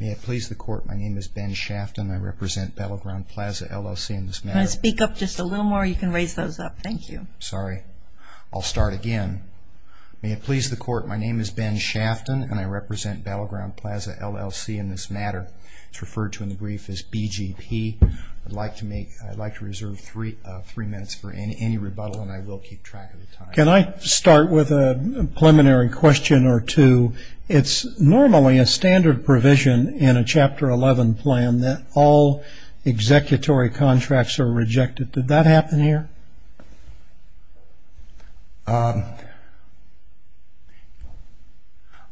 May it please the Court, my name is Ben Shafton and I represent Battle Ground Plaza, LLC in this matter. Can I speak up just a little more? You can raise those up. Thank you. Sorry. I'll start again. May it please the Court, my name is Ben Shafton and I represent Battle Ground Plaza, LLC in this matter. It's referred to in the brief as BGP. I'd like to reserve three minutes for any rebuttal and I will keep track of the time. Can I start with a preliminary question or two? It's normally a standard provision in a Chapter 11 plan that all executory contracts are rejected. Did that happen here?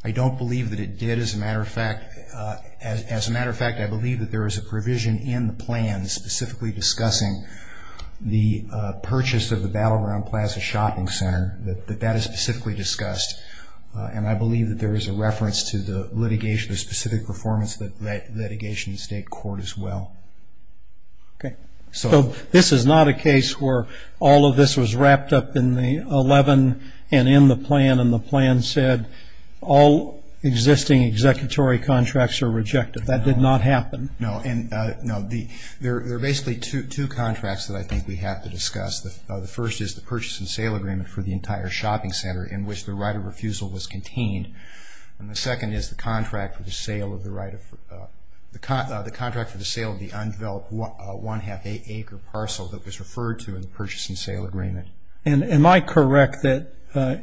I don't believe that it did. As a matter of fact, I believe that there is a provision in the plan specifically discussing the purchase of the Battle Ground Plaza Shopping Center, that that is specifically discussed. And I believe that there is a reference to the litigation, the specific performance of the litigation in state court as well. Okay. So this is not a case where all of this was wrapped up in the 11 and in the plan and the plan said all existing executory contracts are rejected. That did not happen? No. There are basically two contracts that I think we have to discuss. The first is the purchase and sale agreement for the entire shopping center in which the right of refusal was contained. And the second is the contract for the sale of the undeveloped one half acre parcel that was referred to in the purchase and sale agreement. Am I correct that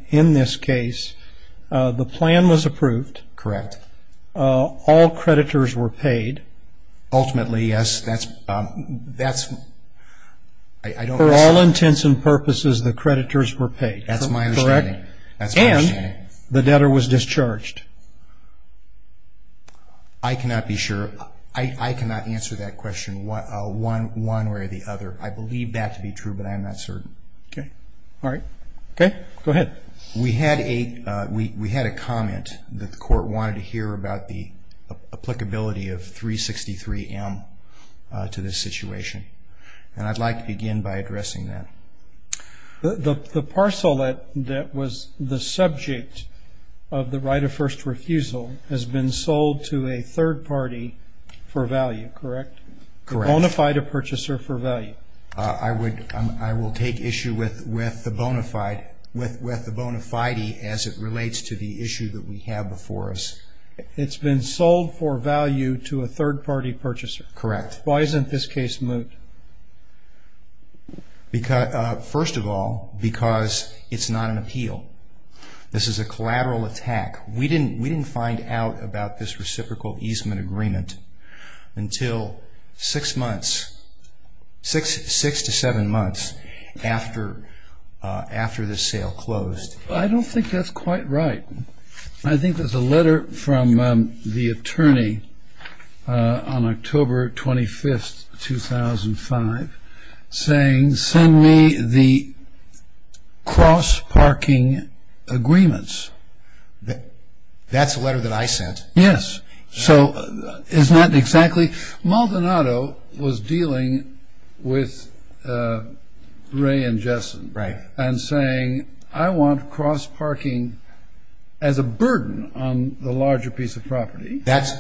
in this case the plan was approved? Correct. All creditors were paid? Ultimately, yes. For all intents and purposes, the creditors were paid? That's my understanding. And the debtor was discharged? I cannot be sure. I cannot answer that question one way or the other. I believe that to be true, but I'm not certain. Okay. All right. Go ahead. We had a comment that the court wanted to hear about the applicability of 363M to this situation. And I'd like to begin by addressing that. The parcel that was the subject of the right of first refusal has been sold to a third party for value, correct? Correct. A bona fide purchaser for value? I will take issue with the bona fide as it relates to the issue that we have before us. It's been sold for value to a third party purchaser? Correct. Why isn't this case moved? First of all, because it's not an appeal. This is a collateral attack. We didn't find out about this reciprocal easement agreement until six months, six to seven months after this sale closed. I don't think that's quite right. I think there's a letter from the attorney on October 25th, 2005, saying send me the cross-parking agreements. That's a letter that I sent? Yes. So isn't that exactly? Maldonado was dealing with Ray and Jessen. Right. And saying I want cross-parking as a burden on the larger piece of property. That's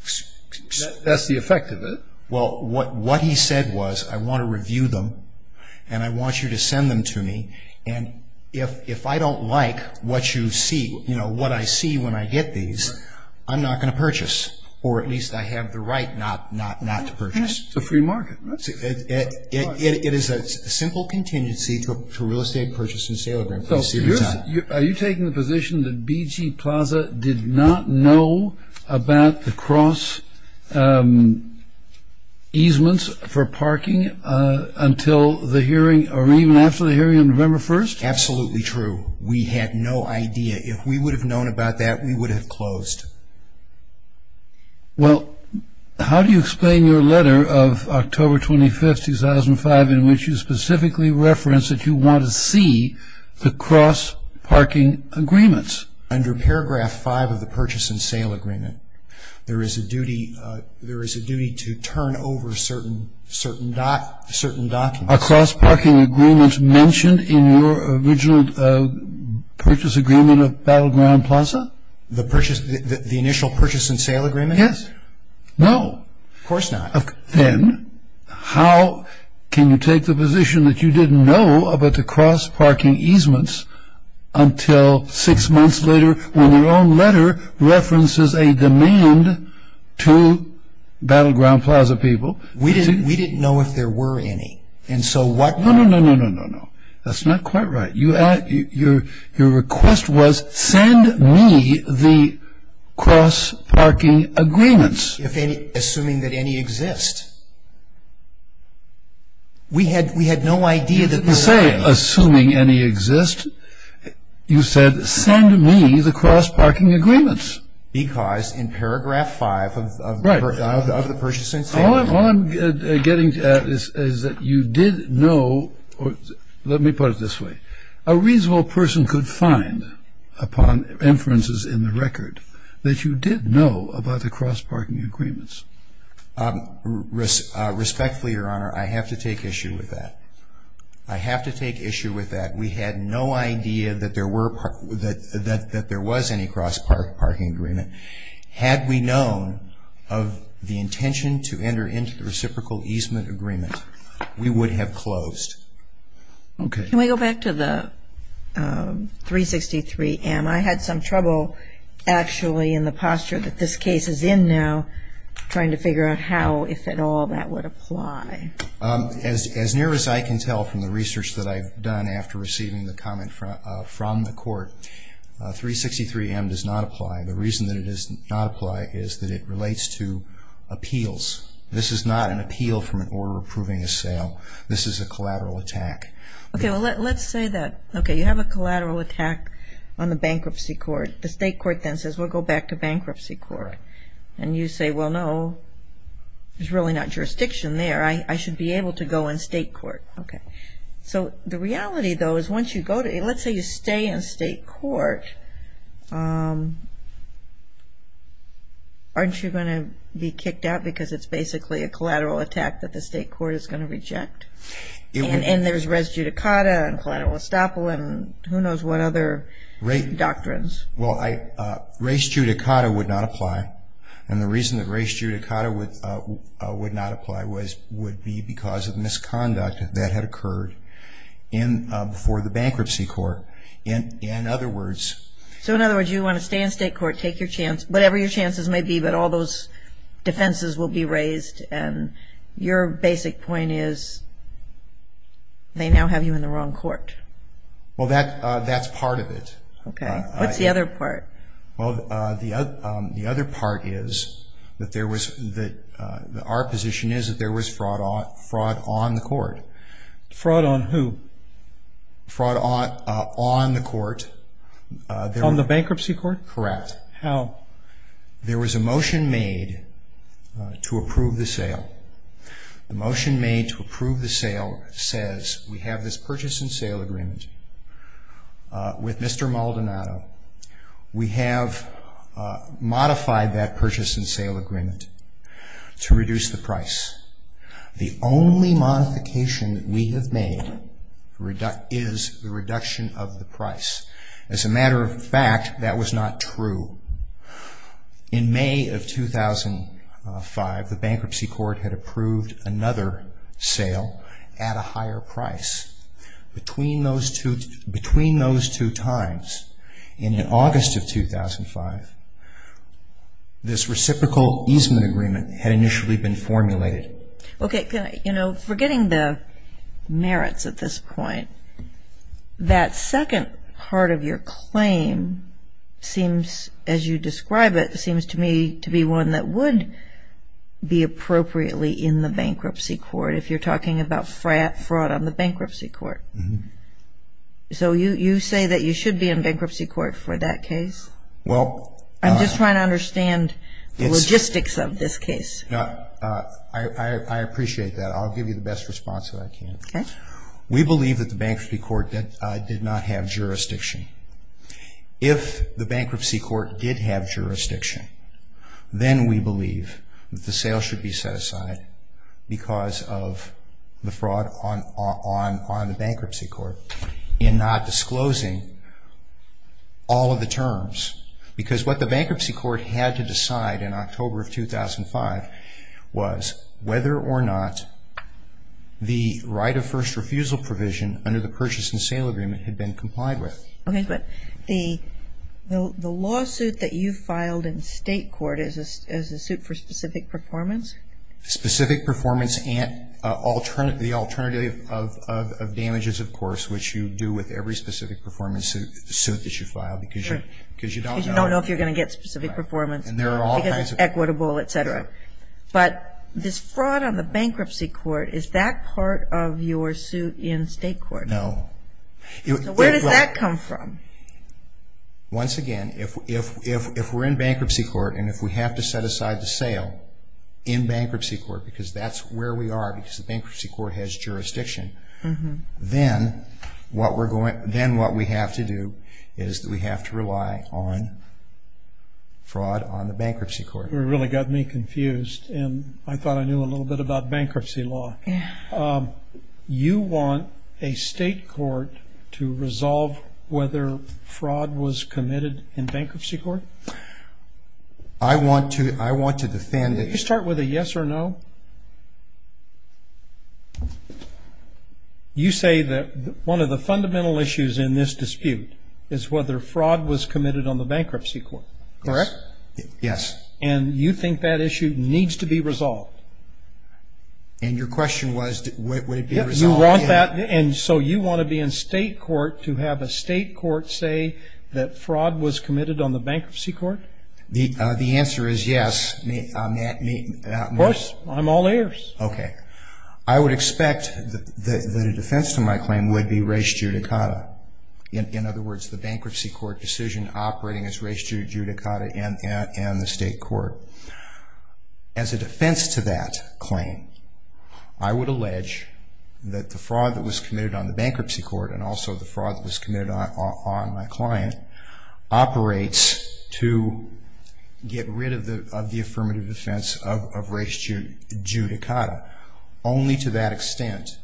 the effect of it. Well, what he said was I want to review them and I want you to send them to me. And if I don't like what you see, you know, what I see when I get these, I'm not going to purchase. Or at least I have the right not to purchase. It's a free market, right? It is a simple contingency to a real estate purchase and sale agreement. Are you taking the position that BG Plaza did not know about the cross-easements for parking until the hearing or even after the hearing on November 1st? Absolutely true. We had no idea. If we would have known about that, we would have closed. Well, how do you explain your letter of October 25th, 2005, in which you specifically reference that you want to see the cross-parking agreements? Under paragraph five of the purchase and sale agreement, there is a duty to turn over certain documents. Are cross-parking agreements mentioned in your original purchase agreement of BG Plaza? The initial purchase and sale agreement? Yes. No. Of course not. Then how can you take the position that you didn't know about the cross-parking easements until six months later when your own letter references a demand to BG Plaza people? We didn't know if there were any. No, no, no, no, no, no. That's not quite right. Your request was send me the cross-parking agreements. Assuming that any exist. We had no idea that there were any. You didn't say assuming any exist. You said send me the cross-parking agreements. Because in paragraph five of the purchase and sale agreement. All I'm getting at is that you did know, let me put it this way, a reasonable person could find upon inferences in the record that you did know about the cross-parking agreements. Respectfully, Your Honor, I have to take issue with that. I have to take issue with that. We had no idea that there were any cross-parking agreement. Had we known of the intention to enter into the reciprocal easement agreement, we would have closed. Okay. Can we go back to the 363M? I had some trouble actually in the posture that this case is in now trying to figure out how, if at all, that would apply. As near as I can tell from the research that I've done after receiving the comment from the court, 363M does not apply. The reason that it does not apply is that it relates to appeals. This is not an appeal from an order approving a sale. This is a collateral attack. Okay. Well, let's say that, okay, you have a collateral attack on the bankruptcy court. The state court then says we'll go back to bankruptcy court. And you say, well, no, there's really not jurisdiction there. I should be able to go in state court. Okay. So the reality, though, is once you go to it, let's say you stay in state court, aren't you going to be kicked out because it's basically a collateral attack that the state court is going to reject? And there's res judicata and collateral estoppel and who knows what other doctrines? Well, res judicata would not apply. And the reason that res judicata would not apply would be because of misconduct that had occurred before the bankruptcy court. In other words. So, in other words, you want to stay in state court, take your chance, whatever your chances may be, but all those defenses will be raised. And your basic point is they now have you in the wrong court. Well, that's part of it. Okay. What's the other part? Well, the other part is that our position is that there was fraud on the court. Fraud on who? Fraud on the court. On the bankruptcy court? Correct. How? There was a motion made to approve the sale. The motion made to approve the sale says, we have this purchase and sale agreement with Mr. Maldonado. We have modified that purchase and sale agreement to reduce the price. The only modification that we have made is the reduction of the price. As a matter of fact, that was not true. In May of 2005, the bankruptcy court had approved another sale at a higher price. Between those two times, in August of 2005, this reciprocal easement agreement had initially been formulated. Okay. You know, forgetting the merits at this point, that second part of your claim seems, as you describe it, seems to me to be one that would be appropriately in the bankruptcy court, if you're talking about fraud on the bankruptcy court. So you say that you should be in bankruptcy court for that case? I'm just trying to understand the logistics of this case. I appreciate that. I'll give you the best response that I can. Okay. We believe that the bankruptcy court did not have jurisdiction. If the bankruptcy court did have jurisdiction, then we believe that the sale should be set aside because of the fraud on the bankruptcy court in not disclosing all of the terms. Because what the bankruptcy court had to decide in October of 2005 was whether or not the right of first refusal provision under the purchase and sale agreement had been complied with. Okay. But the lawsuit that you filed in state court is a suit for specific performance? Specific performance and the alternative of damages, of course, which you do with every specific performance suit that you file because you don't know. Because you don't know if you're going to get specific performance because it's equitable, et cetera. But this fraud on the bankruptcy court, is that part of your suit in state court? No. So where does that come from? Once again, if we're in bankruptcy court and if we have to set aside the sale in bankruptcy court because that's where we are, because the bankruptcy court has jurisdiction, then what we have to do is we have to rely on fraud on the bankruptcy court. That really got me confused and I thought I knew a little bit about bankruptcy law. You want a state court to resolve whether fraud was committed in bankruptcy court? I want to defend it. Can you start with a yes or no? You say that one of the fundamental issues in this dispute is whether fraud was committed on the bankruptcy court. Correct? Yes. And you think that issue needs to be resolved? And your question was would it be resolved? Yes, you want that. And so you want to be in state court to have a state court say that fraud was committed on the bankruptcy court? The answer is yes. Of course. I'm all ears. Okay. I would expect that a defense to my claim would be res judicata. In other words, the bankruptcy court decision operating as res judicata in the state court. As a defense to that claim, I would allege that the fraud that was committed on the bankruptcy court and also the fraud that was committed on my client operates to get rid of the affirmative defense of res judicata. Only to that extent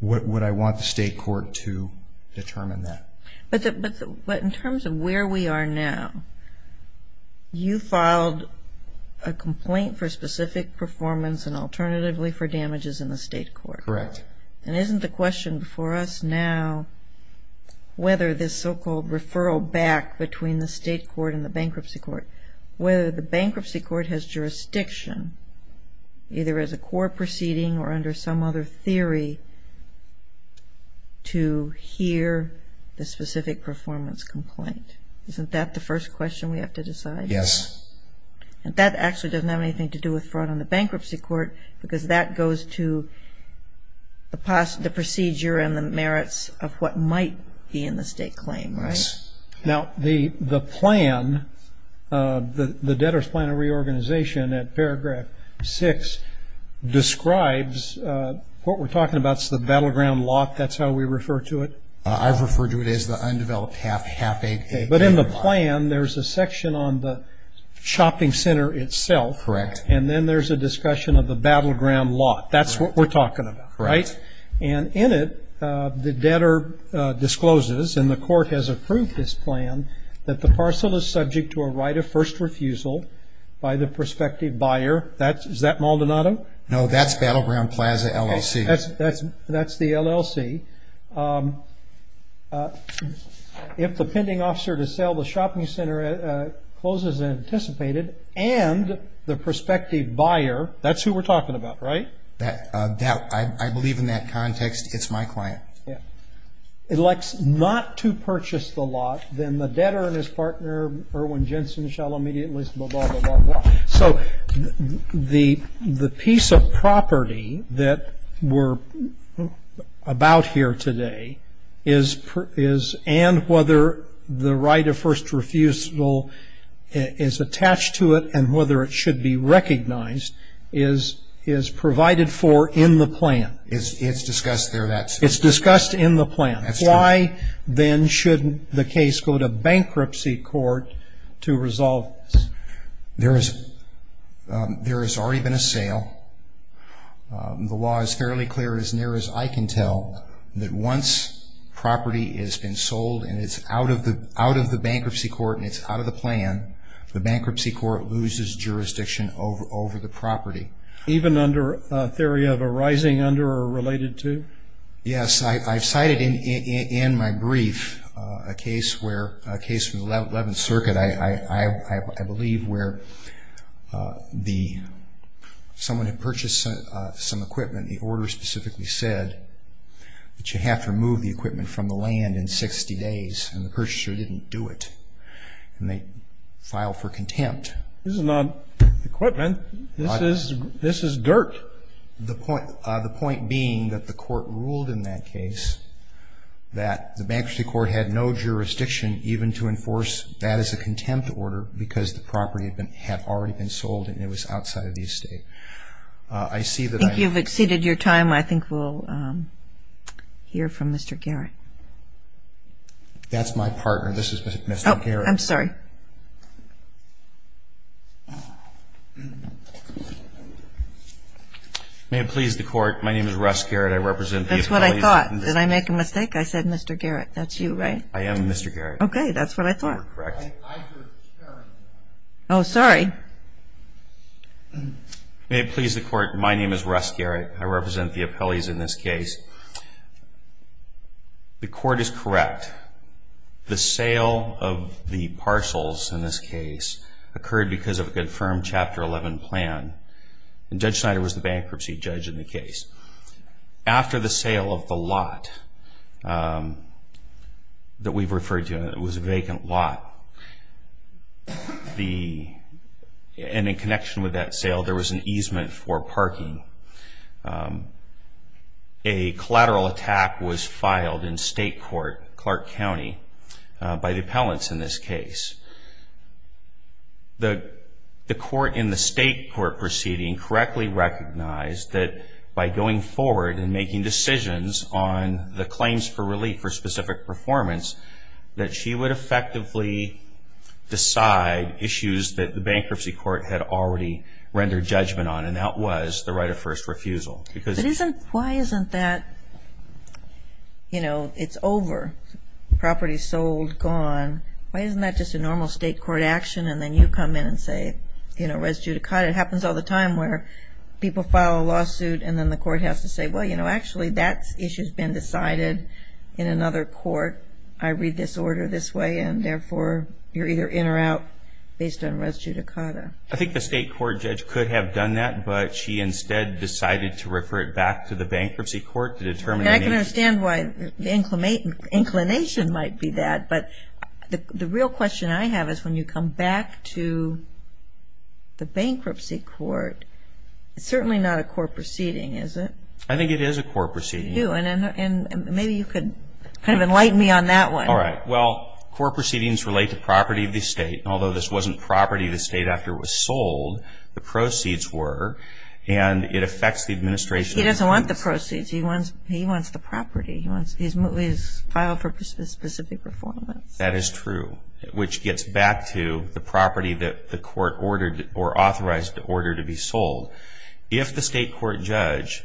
would I want the state court to determine that. But in terms of where we are now, you filed a complaint for specific performance and alternatively for damages in the state court. Correct. And isn't the question for us now whether this so-called referral back between the state court and the bankruptcy court, whether the bankruptcy court has jurisdiction either as a core proceeding or under some other theory to hear the specific performance complaint? Isn't that the first question we have to decide? Yes. That actually doesn't have anything to do with fraud on the bankruptcy court because that goes to the procedure and the merits of what might be in the state claim, right? Yes. Now, the plan, the debtor's plan of reorganization at paragraph 6, describes what we're talking about is the battleground lot. That's how we refer to it. I refer to it as the undeveloped half half-acre lot. But in the plan, there's a section on the shopping center itself. Correct. And then there's a discussion of the battleground lot. That's what we're talking about, right? Correct. And in it, the debtor discloses, and the court has approved this plan, that the parcel is subject to a right of first refusal by the prospective buyer. Is that Maldonado? No, that's Battleground Plaza, LLC. That's the LLC. If the pending officer to sell the shopping center closes unanticipated and the prospective buyer, that's who we're talking about, right? I believe in that context, it's my client. Yeah. Elects not to purchase the lot, then the debtor and his partner, Irwin Jensen, shall immediately, blah, blah, blah, blah. So the piece of property that we're about here today is, and whether the right of first refusal is attached to it and whether it should be recognized is provided for in the plan. It's discussed there, that's true. It's discussed in the plan. That's true. Why, then, should the case go to bankruptcy court to resolve this? There has already been a sale. The law is fairly clear, as near as I can tell, that once property has been sold and it's out of the bankruptcy court and it's out of the plan, the bankruptcy court loses jurisdiction over the property. Even under a theory of a rising under or related to? Yes. I've cited in my brief a case from the 11th Circuit, I believe, where someone had purchased some equipment. The order specifically said that you have to remove the equipment from the land in 60 days, and the purchaser didn't do it, and they filed for contempt. This is not equipment. This is dirt. The point being that the court ruled in that case that the bankruptcy court had no jurisdiction even to enforce that as a contempt order because the property had already been sold and it was outside of the estate. I think you've exceeded your time. I think we'll hear from Mr. Garrett. That's my partner. This is Mr. Garrett. I'm sorry. May it please the Court, my name is Russ Garrett. That's what I thought. Did I make a mistake? I said Mr. Garrett. I am Mr. Garrett. Okay. That's what I thought. I'm sorry. May it please the Court, my name is Russ Garrett. I represent the appellees in this case. The court is correct. The sale of the parcels in this case occurred because of a confirmed Chapter 11 plan, after the sale of the lot that we've referred to. It was a vacant lot. And in connection with that sale, there was an easement for parking. A collateral attack was filed in state court, Clark County, by the appellants in this case. The court in the state court proceeding correctly recognized that by going forward and making decisions on the claims for relief for specific performance, that she would effectively decide issues that the bankruptcy court had already rendered judgment on, and that was the right of first refusal. Why isn't that, you know, it's over? Property sold, gone. Why isn't that just a normal state court action? And then you come in and say, you know, res judicata. It happens all the time where people file a lawsuit and then the court has to say, well, you know, actually that issue has been decided in another court. I read this order this way, and therefore you're either in or out based on res judicata. I think the state court judge could have done that, but she instead decided to refer it back to the bankruptcy court to determine. I can understand why the inclination might be that, but the real question I have is when you come back to the bankruptcy court, it's certainly not a court proceeding, is it? I think it is a court proceeding. And maybe you could kind of enlighten me on that one. All right. Well, court proceedings relate to property of the state, and although this wasn't property of the state after it was sold, the proceeds were, and it affects the administration. He doesn't want the proceeds. He wants the property. He's filed for specific performance. That is true, which gets back to the property that the court ordered or authorized the order to be sold. If the state court judge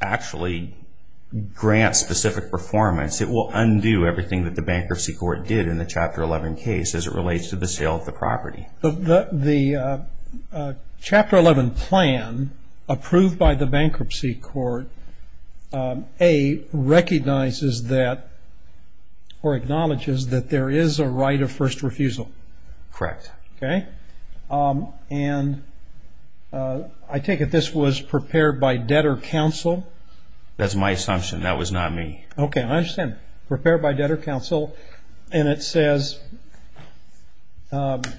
actually grants specific performance, it will undo everything that the bankruptcy court did in the Chapter 11 case as it relates to the sale of the property. The Chapter 11 plan approved by the bankruptcy court, A, recognizes that or acknowledges that there is a right of first refusal. Correct. Okay. And I take it this was prepared by debtor counsel? That's my assumption. That was not me. Okay. I understand. Okay. Prepared by debtor counsel, and it says, if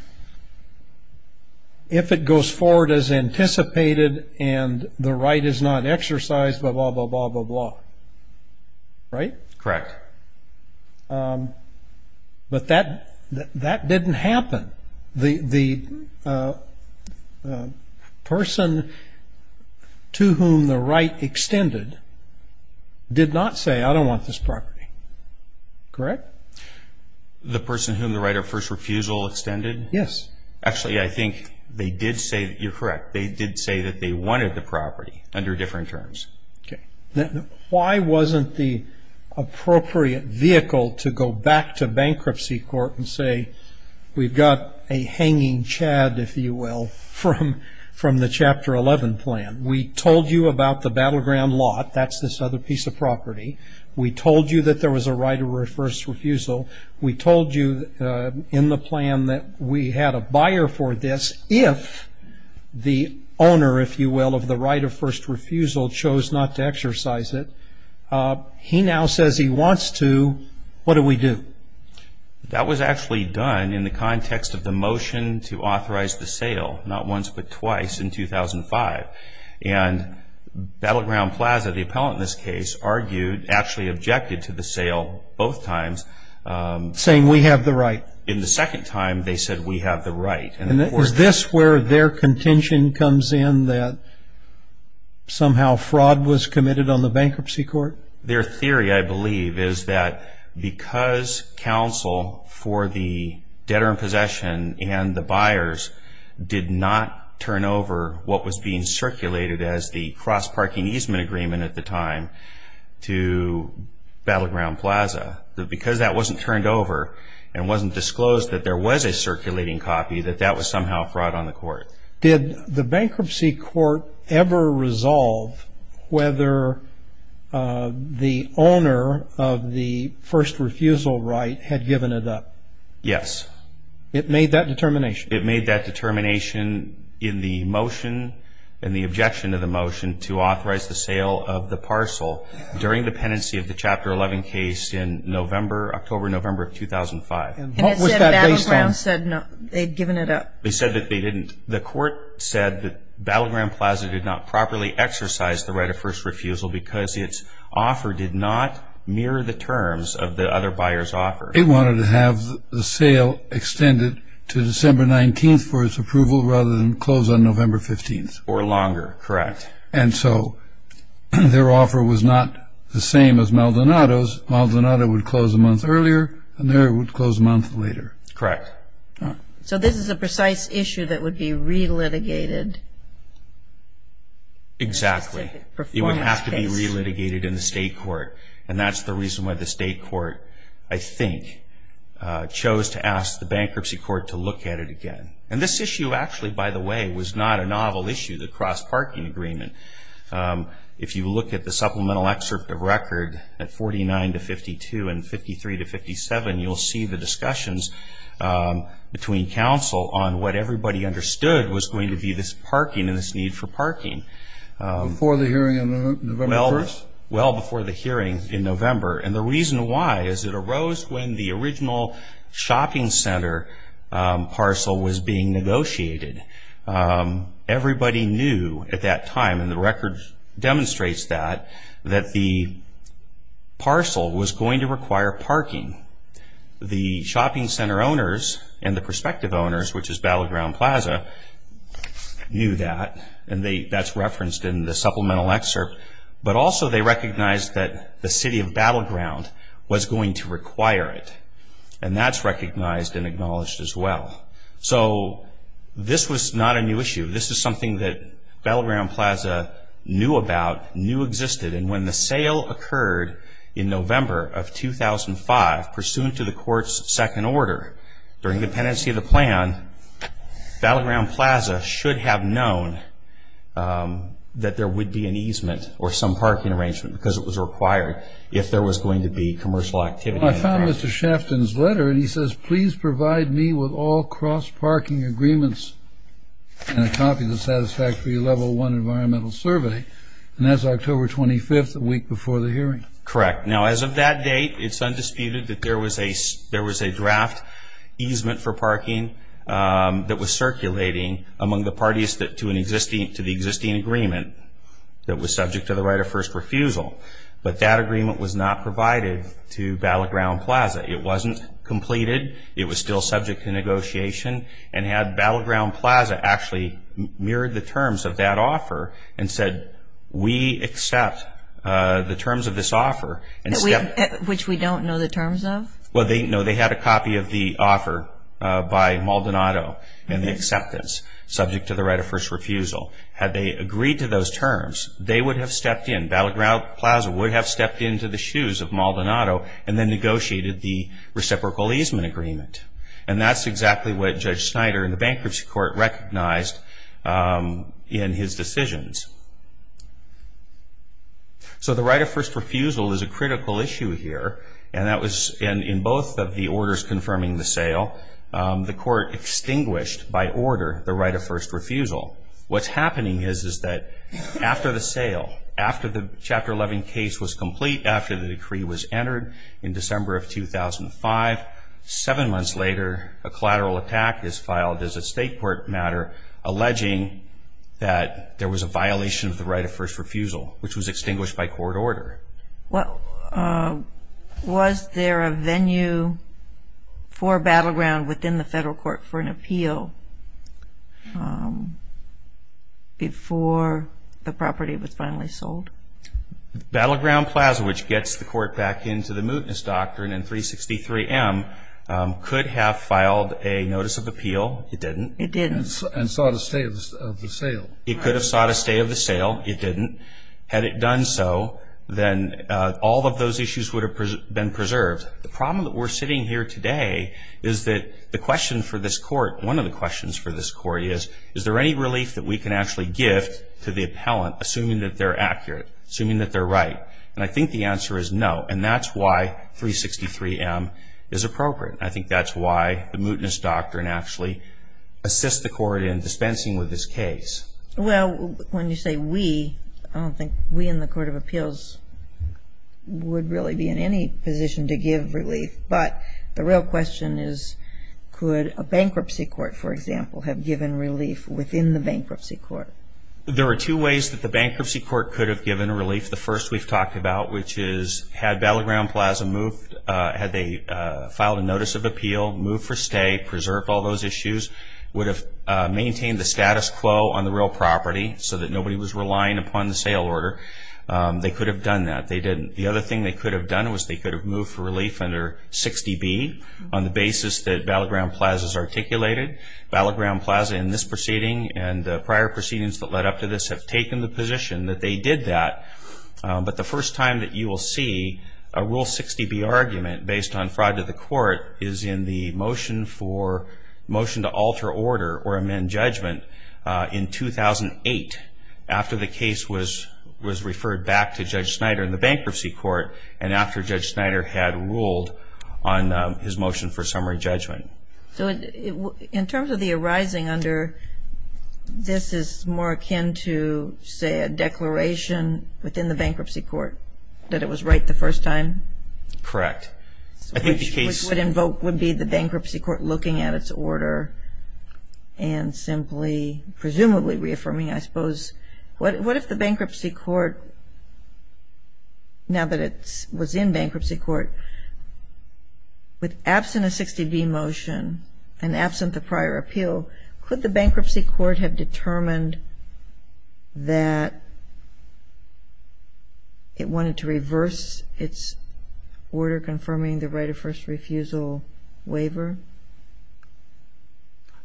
it goes forward as anticipated and the right is not exercised, blah, blah, blah, blah, blah. Right? Correct. But that didn't happen. The person to whom the right extended did not say, I don't want this property. Correct? The person whom the right of first refusal extended? Yes. Actually, I think they did say, you're correct, they did say that they wanted the property under different terms. Okay. Why wasn't the appropriate vehicle to go back to bankruptcy court and say we've got a hanging chad, if you will, from the Chapter 11 plan? We told you about the battleground lot, that's this other piece of property. We told you that there was a right of first refusal. We told you in the plan that we had a buyer for this if the owner, if you will, of the right of first refusal chose not to exercise it. He now says he wants to. What do we do? That was actually done in the context of the motion to authorize the sale, not once but twice, in 2005. And Battleground Plaza, the appellant in this case, argued, actually objected to the sale both times. Saying we have the right. In the second time, they said we have the right. And is this where their contention comes in that somehow fraud was committed on the bankruptcy court? Their theory, I believe, is that because counsel for the debtor in possession and the buyers did not turn over what was being circulated as the cross-parking easement agreement at the time to Battleground Plaza, because that wasn't turned over and wasn't disclosed that there was a circulating copy, that that was somehow fraud on the court. Did the bankruptcy court ever resolve whether the owner of the first refusal right had given it up? Yes. It made that determination? It made that determination in the motion, in the objection to the motion, to authorize the sale of the parcel during dependency of the Chapter 11 case in October, November of 2005. And what was that based on? And it said Battleground said they'd given it up. They said that they didn't. The court said that Battleground Plaza did not properly exercise the right of first refusal because its offer did not mirror the terms of the other buyer's offer. It wanted to have the sale extended to December 19th for its approval rather than close on November 15th. Or longer, correct. And so their offer was not the same as Maldonado's. Maldonado would close a month earlier, and they would close a month later. Correct. So this is a precise issue that would be re-litigated? Exactly. It would have to be re-litigated in the state court, and that's the reason why the state court, I think, chose to ask the bankruptcy court to look at it again. And this issue, actually, by the way, was not a novel issue, the cross-parking agreement. If you look at the supplemental excerpt of record at 49 to 52 and 53 to 57, you'll see the discussions between counsel on what everybody understood was going to be this parking and this need for parking. Before the hearing on November 1st? Well, before the hearing in November. And the reason why is it arose when the original shopping center parcel was being negotiated. Everybody knew at that time, and the record demonstrates that, that the parcel was going to require parking. The shopping center owners and the prospective owners, which is Battleground Plaza, knew that, and that's referenced in the supplemental excerpt. But also they recognized that the city of Battleground was going to require it, and that's recognized and acknowledged as well. So this was not a new issue. This is something that Battleground Plaza knew about, knew existed, and when the sale occurred in November of 2005, pursuant to the court's second order, during the pendency of the plan, Battleground Plaza should have known that there would be an easement or some parking arrangement because it was required if there was going to be commercial activity. I found Mr. Shafton's letter, and he says, please provide me with all cross-parking agreements and a copy of the satisfactory Level 1 environmental survey. And that's October 25th, a week before the hearing. Correct. Now, as of that date, it's undisputed that there was a draft easement for parking that was circulating among the parties to the existing agreement that was subject to the right of first refusal. But that agreement was not provided to Battleground Plaza. It wasn't completed. It was still subject to negotiation. And had Battleground Plaza actually mirrored the terms of that offer and said, we accept the terms of this offer and stepped in. Which we don't know the terms of? Well, no, they had a copy of the offer by Maldonado and the acceptance subject to the right of first refusal. Had they agreed to those terms, they would have stepped in. Battleground Plaza would have stepped into the shoes of Maldonado and then negotiated the reciprocal easement agreement. And that's exactly what Judge Snyder in the bankruptcy court recognized in his decisions. So the right of first refusal is a critical issue here. And that was in both of the orders confirming the sale, the court extinguished by order the right of first refusal. What's happening is that after the sale, after the Chapter 11 case was complete, after the decree was entered in December of 2005, seven months later a collateral attack is filed as a state court matter alleging that there was a violation of the right of first refusal, which was extinguished by court order. Was there a venue for Battleground within the federal court for an appeal before the property was finally sold? Battleground Plaza, which gets the court back into the mootness doctrine in 363M, could have filed a notice of appeal. It didn't. It didn't and sought a stay of the sale. It could have sought a stay of the sale. It didn't. Had it done so, then all of those issues would have been preserved. The problem that we're sitting here today is that the question for this court, one of the questions for this court is, is there any relief that we can actually give to the appellant, assuming that they're accurate, assuming that they're right? And I think the answer is no, and that's why 363M is appropriate. I think that's why the mootness doctrine actually assists the court in dispensing with this case. Well, when you say we, I don't think we in the Court of Appeals would really be in any position to give relief. But the real question is, could a bankruptcy court, for example, have given relief within the bankruptcy court? There are two ways that the bankruptcy court could have given relief. The first we've talked about, which is had Battleground Plaza moved, had they filed a notice of appeal, moved for stay, preserved all those issues, would have maintained the status quo on the real property so that nobody was relying upon the sale order. They could have done that. They didn't. The other thing they could have done was they could have moved for relief under 60B on the basis that Battleground Plaza has articulated. Battleground Plaza in this proceeding and the prior proceedings that led up to this have taken the position that they did that. But the first time that you will see a Rule 60B argument based on fraud to the court is in the motion to alter order or amend judgment in 2008 after the case was referred back to Judge Snyder in the bankruptcy court and after Judge Snyder had ruled on his motion for summary judgment. So in terms of the arising under, this is more akin to, say, a declaration within the bankruptcy court that it was right the first time? Correct. Which would be the bankruptcy court looking at its order and simply presumably reaffirming, I suppose, what if the bankruptcy court, now that it was in bankruptcy court, with absent a 60B motion and absent the prior appeal, could the bankruptcy court have determined that it wanted to reverse its order after confirming the right of first refusal waiver?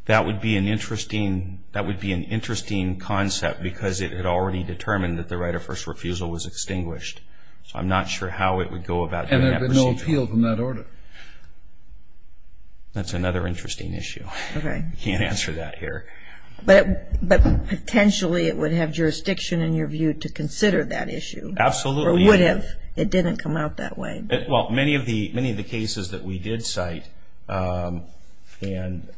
That would be an interesting concept because it had already determined that the right of first refusal was extinguished. So I'm not sure how it would go about doing that procedure. And there would be no appeal from that order? That's another interesting issue. I can't answer that here. But potentially it would have jurisdiction in your view to consider that issue. Absolutely. Or would have. It didn't come out that way. Well, many of the cases that we did cite and...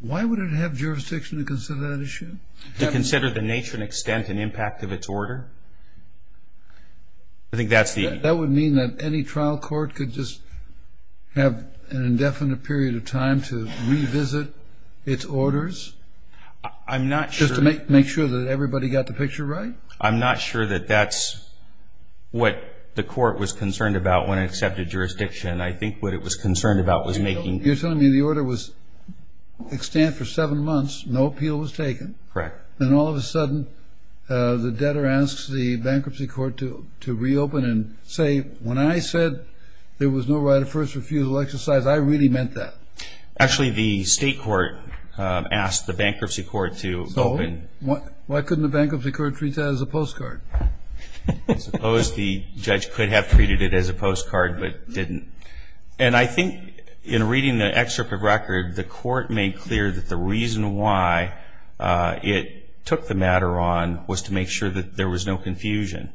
Why would it have jurisdiction to consider that issue? To consider the nature and extent and impact of its order? I think that's the... That would mean that any trial court could just have an indefinite period of time to revisit its orders? I'm not sure... Just to make sure that everybody got the picture right? I'm not sure that that's what the court was concerned about when it accepted jurisdiction. I think what it was concerned about was making... You're telling me the order was extant for seven months, no appeal was taken. Correct. Then all of a sudden the debtor asks the bankruptcy court to reopen and say, when I said there was no right of first refusal exercise, I really meant that. Actually, the state court asked the bankruptcy court to open... Why couldn't the bankruptcy court treat that as a postcard? I suppose the judge could have treated it as a postcard but didn't. And I think in reading the excerpt of record, the court made clear that the reason why it took the matter on was to make sure that there was no confusion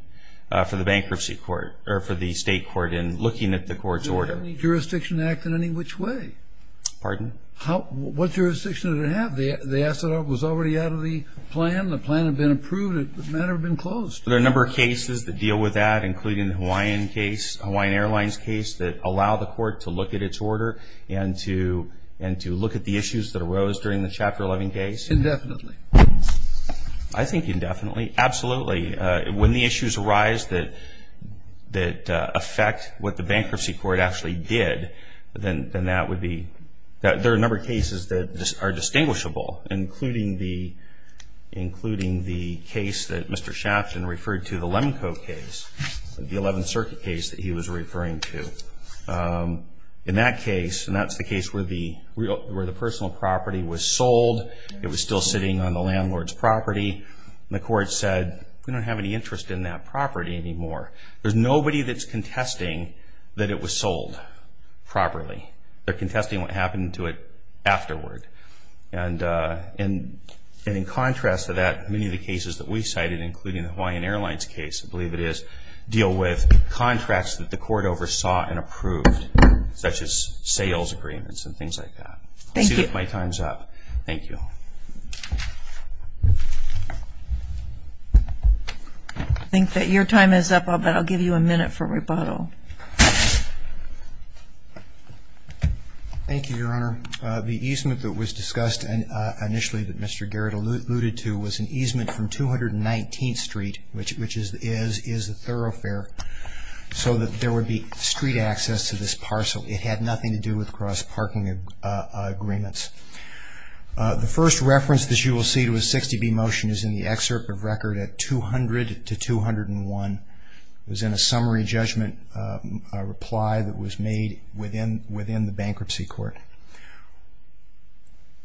for the bankruptcy court, or for the state court in looking at the court's order. Did it have any jurisdiction to act in any which way? Pardon? What jurisdiction did it have? The asset was already out of the plan, the plan had been approved, the matter had been closed. Are there a number of cases that deal with that, including the Hawaiian case, Hawaiian Airlines case, that allow the court to look at its order and to look at the issues that arose during the Chapter 11 case? Indefinitely. I think indefinitely, absolutely. When the issues arise that affect what the bankruptcy court actually did, then that would be – there are a number of cases that are distinguishable, including the case that Mr. Shafton referred to, the Lemco case, the 11th Circuit case that he was referring to. In that case, and that's the case where the personal property was sold, it was still sitting on the landlord's property, the court said we don't have any interest in that property anymore. There's nobody that's contesting that it was sold properly. They're contesting what happened to it afterward. And in contrast to that, many of the cases that we cited, including the Hawaiian Airlines case, I believe it is, deal with contracts that the court oversaw and approved, such as sales agreements and things like that. I see that my time's up. Thank you. Thank you, Your Honor. I think that your time is up, but I'll give you a minute for rebuttal. Thank you, Your Honor. The easement that was discussed initially that Mr. Garrett alluded to was an easement from 219th Street, which is the thoroughfare, so that there would be street access to this parcel. It had nothing to do with cross-parking agreements. The first reference that you will see to a 60B motion is in the excerpt of record at 200 to 201. It was in a summary judgment reply that was made within the bankruptcy court.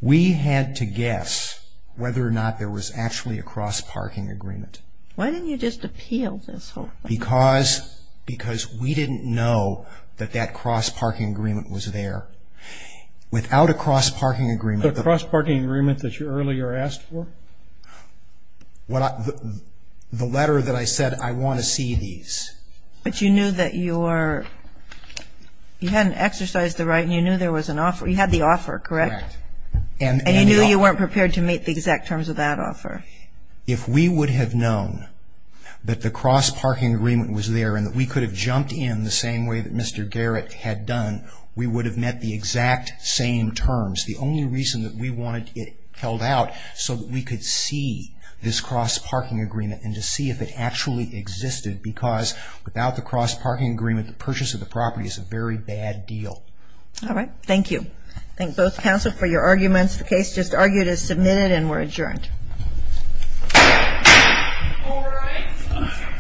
We had to guess whether or not there was actually a cross-parking agreement. Why didn't you just appeal this whole thing? Because we didn't know that that cross-parking agreement was there. Without a cross-parking agreement. The cross-parking agreement that you earlier asked for? The letter that I said, I want to see these. But you knew that you hadn't exercised the right and you knew there was an offer. You had the offer, correct? Correct. And you knew you weren't prepared to meet the exact terms of that offer. If we would have known that the cross-parking agreement was there and that we could have jumped in the same way that Mr. Garrett had done, we would have met the exact same terms. The only reason that we wanted it held out so that we could see this cross-parking agreement and to see if it actually existed. Because without the cross-parking agreement, the purchase of the property is a very bad deal. All right. Thank you. Thank both counsel for your arguments. The case just argued is submitted and we're adjourned. All rise.